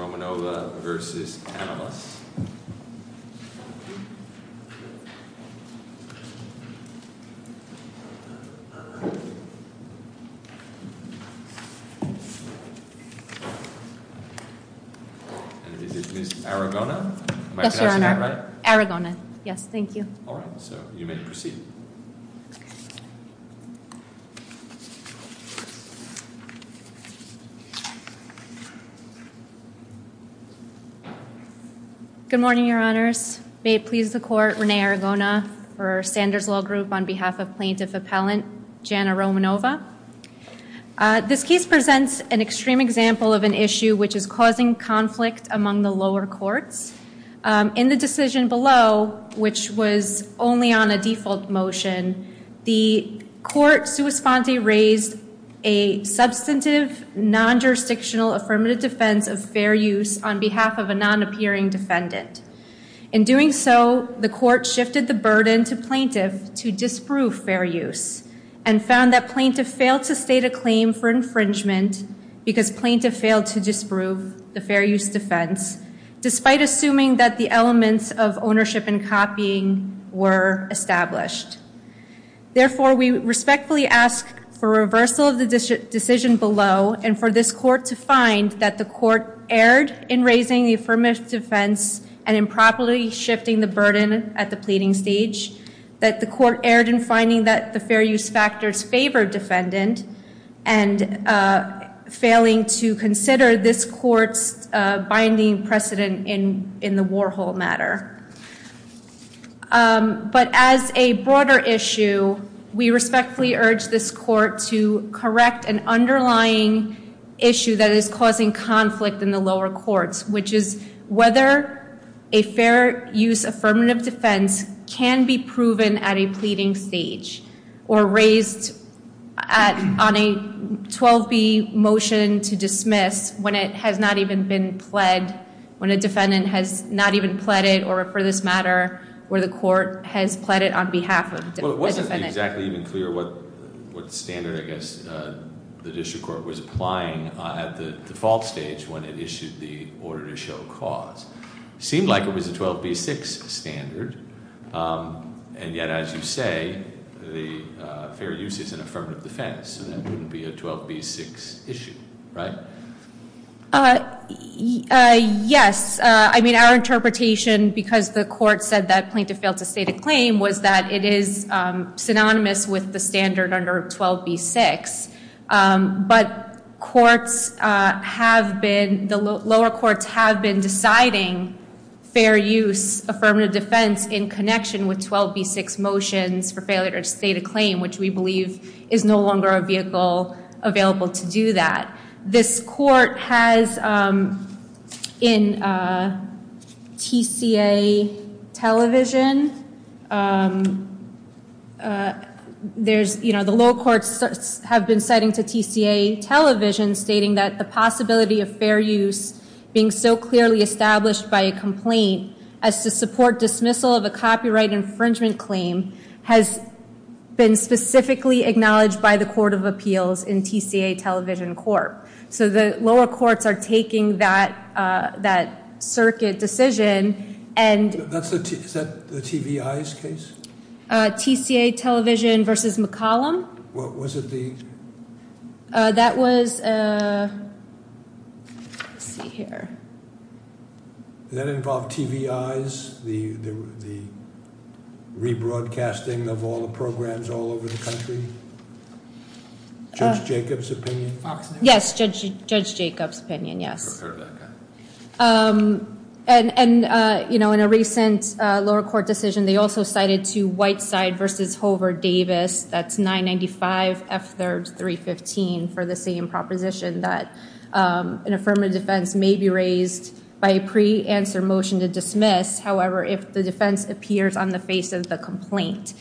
Romanova v. Amilus. And is this Miss Aragona? Yes, Your Honor. Am I pronouncing that right? Aragona, yes, thank you. All right, so you may proceed. Good morning, Your Honors. May it please the Court, Rene Aragona for Sanders Law Group on behalf of Plaintiff Appellant Jana Romanova. This case presents an extreme example of an issue which is causing conflict among the lower courts. In the decision below, which was only on a default motion, the court sua sponte raised a substantive, non-jurisdictional affirmative defense of fair use on behalf of a non-appearing defendant. In doing so, the court shifted the burden to plaintiff to disprove fair use and found that plaintiff failed to state a claim for infringement because plaintiff failed to disprove the fair use defense, despite assuming that the elements of ownership and copying were established. Therefore, we respectfully ask for reversal of the decision below and for this court to find that the court erred in raising the affirmative defense and improperly shifting the burden at the pleading stage, that the court erred in finding that the fair use factors favored defendant, and failing to consider this court's binding precedent in the Warhol matter. But as a broader issue, we respectfully urge this court to correct an underlying issue that is causing conflict in the lower courts, which is whether a fair use affirmative defense can be proven at a pleading stage or raised on a 12B motion to dismiss when it has not even been pled, when a defendant has not even pled it, or for this matter, where the court has pled it on behalf of the defendant. Well, it wasn't exactly even clear what standard, I guess, the district court was applying at the default stage when it issued the order to show cause. It seemed like it was a 12B6 standard, and yet, as you say, the fair use is an affirmative defense, and that wouldn't be a 12B6 issue, right? Yes. I mean, our interpretation, because the court said that plaintiff failed to state a claim, was that it is synonymous with the standard under 12B6. But the lower courts have been deciding fair use affirmative defense in connection with 12B6 motions for failure to state a claim, which we believe is no longer a vehicle available to do that. This court has, in TCA television, the lower courts have been citing to TCA television stating that the possibility of fair use being so clearly established by a complaint as to support dismissal of a copyright infringement claim has been specifically acknowledged by the court of appeals in TCA television court. So the lower courts are taking that circuit decision and... Is that the TVI's case? TCA television versus McCollum? Was it the... That was... Let's see here. Did that involve TVI's, the rebroadcasting of all the programs all over the country? Judge Jacob's opinion? Yes, Judge Jacob's opinion, yes. And, you know, in a recent lower court decision, they also cited to Whiteside versus Hover Davis, that's 995 F315, for the same proposition that an affirmative defense may be raised by a pre-answer motion to dismiss, however, if the defense appears on the face of the complaint.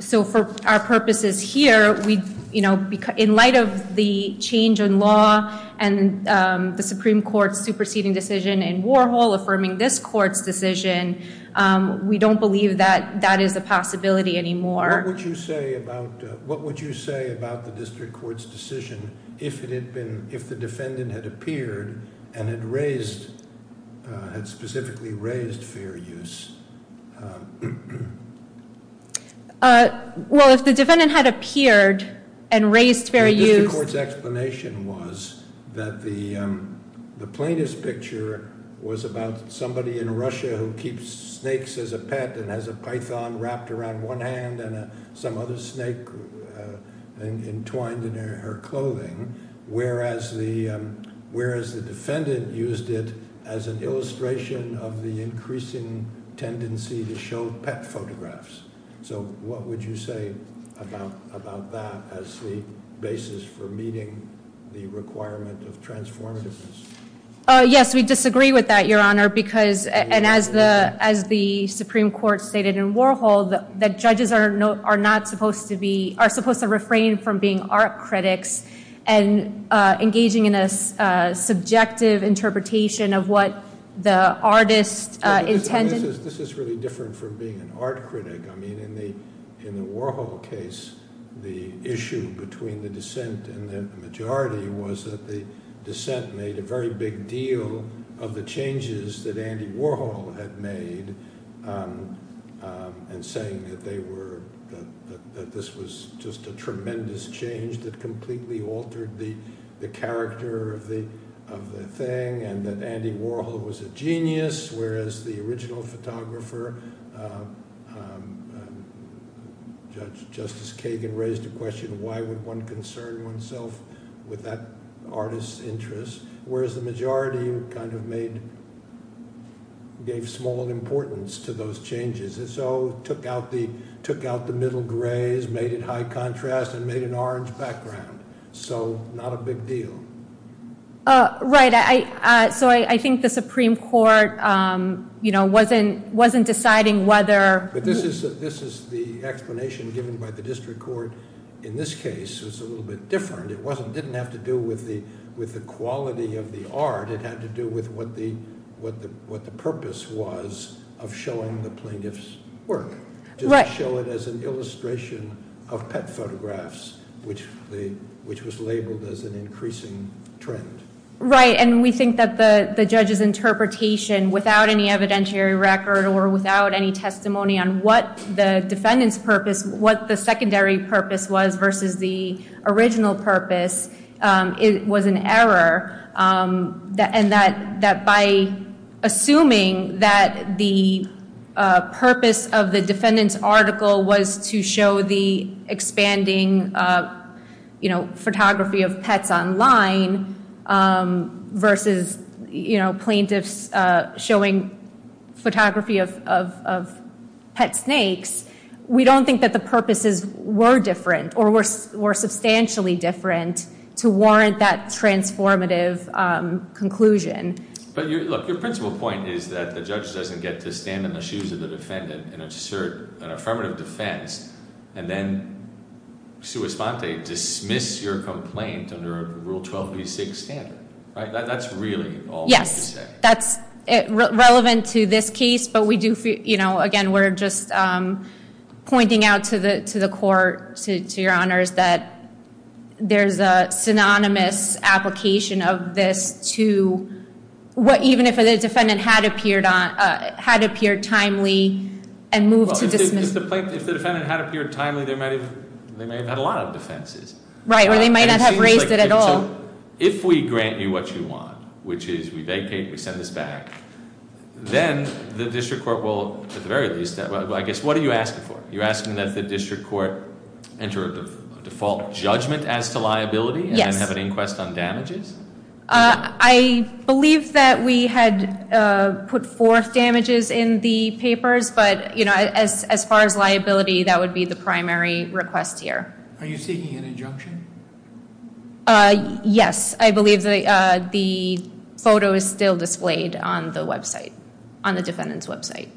So for our purposes here, in light of the change in law and the Supreme Court's superseding decision in Warhol affirming this court's decision, we don't believe that that is a possibility anymore. What would you say about the district court's decision if it had been... If the defendant had appeared and had raised... Had specifically raised fair use? Well, if the defendant had appeared and raised fair use... The district court's explanation was that the plaintiff's picture was about somebody in Russia who keeps snakes as a pet and has a python wrapped around one hand and some other snake entwined in her clothing, whereas the defendant used it as an illustration of the increasing tendency to show pet photographs. So what would you say about that as the basis for meeting the requirement of transformativeness? Yes, we disagree with that, Your Honor, because... And as the Supreme Court stated in Warhol, the judges are not supposed to be... are supposed to refrain from being art critics and engaging in a subjective interpretation of what the artist intended... This is really different from being an art critic. I mean, in the Warhol case, the issue between the dissent and the majority was that the dissent made a very big deal of the changes that Andy Warhol had made and saying that they were... that this was just a tremendous change that completely altered the character of the thing and that Andy Warhol was a genius, whereas the original photographer, Justice Kagan, raised the question, why would one concern oneself with that artist's interests, whereas the majority kind of made... gave small importance to those changes and so took out the middle grays, made it high contrast, and made an orange background. So not a big deal. Right. So I think the Supreme Court, you know, wasn't deciding whether... But this is the explanation given by the district court in this case. It was a little bit different. It didn't have to do with the quality of the art. It had to do with what the purpose was of showing the plaintiff's work, to show it as an illustration of pet photographs, which was labeled as an increasing trend. Right, and we think that the judge's interpretation, without any evidentiary record or without any testimony on what the defendant's purpose, what the secondary purpose was versus the original purpose, was an error, and that by assuming that the purpose of the defendant's article was to show the expanding, you know, photography of pets online versus, you know, plaintiffs showing photography of pet snakes, we don't think that the purposes were different or were substantially different to warrant that transformative conclusion. But, look, your principal point is that the judge doesn't get to stand in the shoes of the defendant and assert an affirmative defense and then, sua sponte, dismiss your complaint under a Rule 12b6 standard, right? That's really all that you say. Yes, that's relevant to this case, but we do feel, you know, again, we're just pointing out to the court, to your honors, that there's a synonymous application of this to what, even if the defendant had appeared timely and moved to dismiss. Well, if the defendant had appeared timely, they may have had a lot of defenses. Right, or they may not have raised it at all. So if we grant you what you want, which is we vacate, we send this back, then the district court will, at the very least, I guess, what are you asking for? You're asking that the district court enter a default judgment as to liability? Yes. And then have an inquest on damages? I believe that we had put forth damages in the papers, but, you know, as far as liability, that would be the primary request here. Are you seeking an injunction? Yes. I believe the photo is still displayed on the website, on the defendant's website.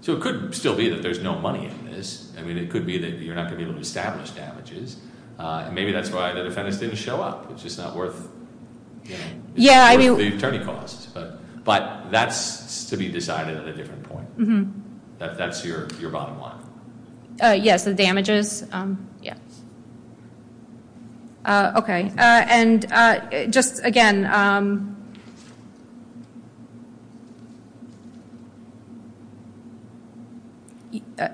So it could still be that there's no money in this. I mean, it could be that you're not going to be able to establish damages. Maybe that's why the defendant didn't show up. It's just not worth the attorney costs. But that's to be decided at a different point. That's your bottom line. Yes, the damages. Okay. And just, again,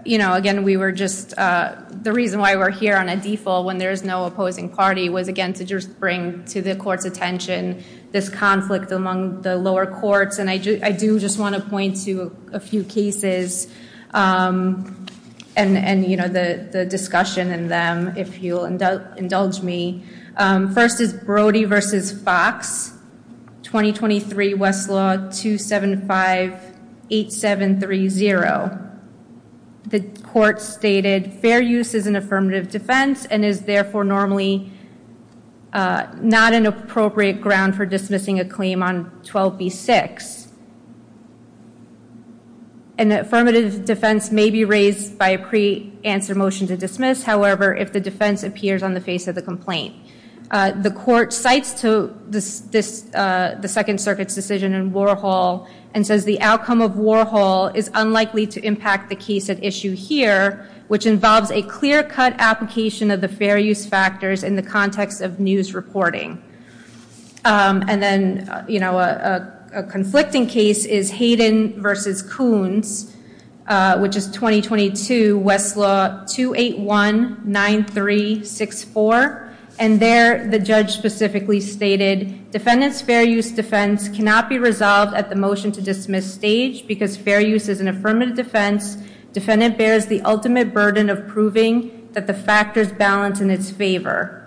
you know, again, we were just the reason why we're here on a default when there is no opposing party was, again, to just bring to the court's attention this conflict among the lower courts. And I do just want to point to a few cases and, you know, the discussion in them, if you'll indulge me. First is Brody v. Fox, 2023 Westlaw 2758730. The court stated fair use is an affirmative defense and is therefore normally not an appropriate ground for dismissing a claim on 12b-6. An affirmative defense may be raised by a pre-answer motion to dismiss, however, if the defense appears on the face of the complaint. The court cites the Second Circuit's decision in Warhol and says the outcome of Warhol is unlikely to impact the case at issue here, which involves a clear-cut application of the fair use factors in the context of news reporting. And then, you know, a conflicting case is Hayden v. Koons, which is 2022 Westlaw 2819364. And there the judge specifically stated, defendant's fair use defense cannot be resolved at the motion to dismiss stage because fair use is an affirmative defense. Defendant bears the ultimate burden of proving that the factors balance in its favor.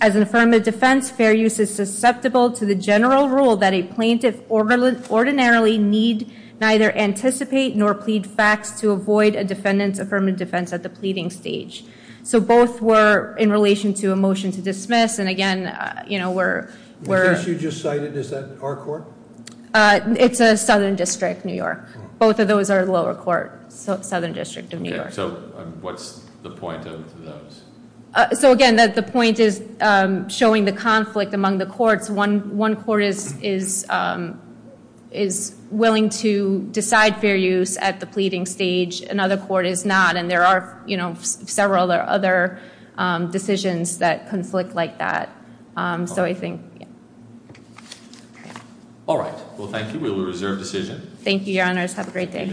As an affirmative defense, fair use is susceptible to the general rule that a plaintiff ordinarily need neither anticipate nor plead facts to avoid a defendant's affirmative defense at the pleading stage. So both were in relation to a motion to dismiss. And again, you know, we're- The case you just cited, is that our court? It's a Southern District, New York. Both of those are lower court, Southern District of New York. Okay, so what's the point of those? So again, the point is showing the conflict among the courts. One court is willing to decide fair use at the pleading stage. Another court is not. And there are, you know, several other decisions that conflict like that. So I think- All right. Well, thank you. We will reserve decision. Thank you, Your Honors. Have a great day.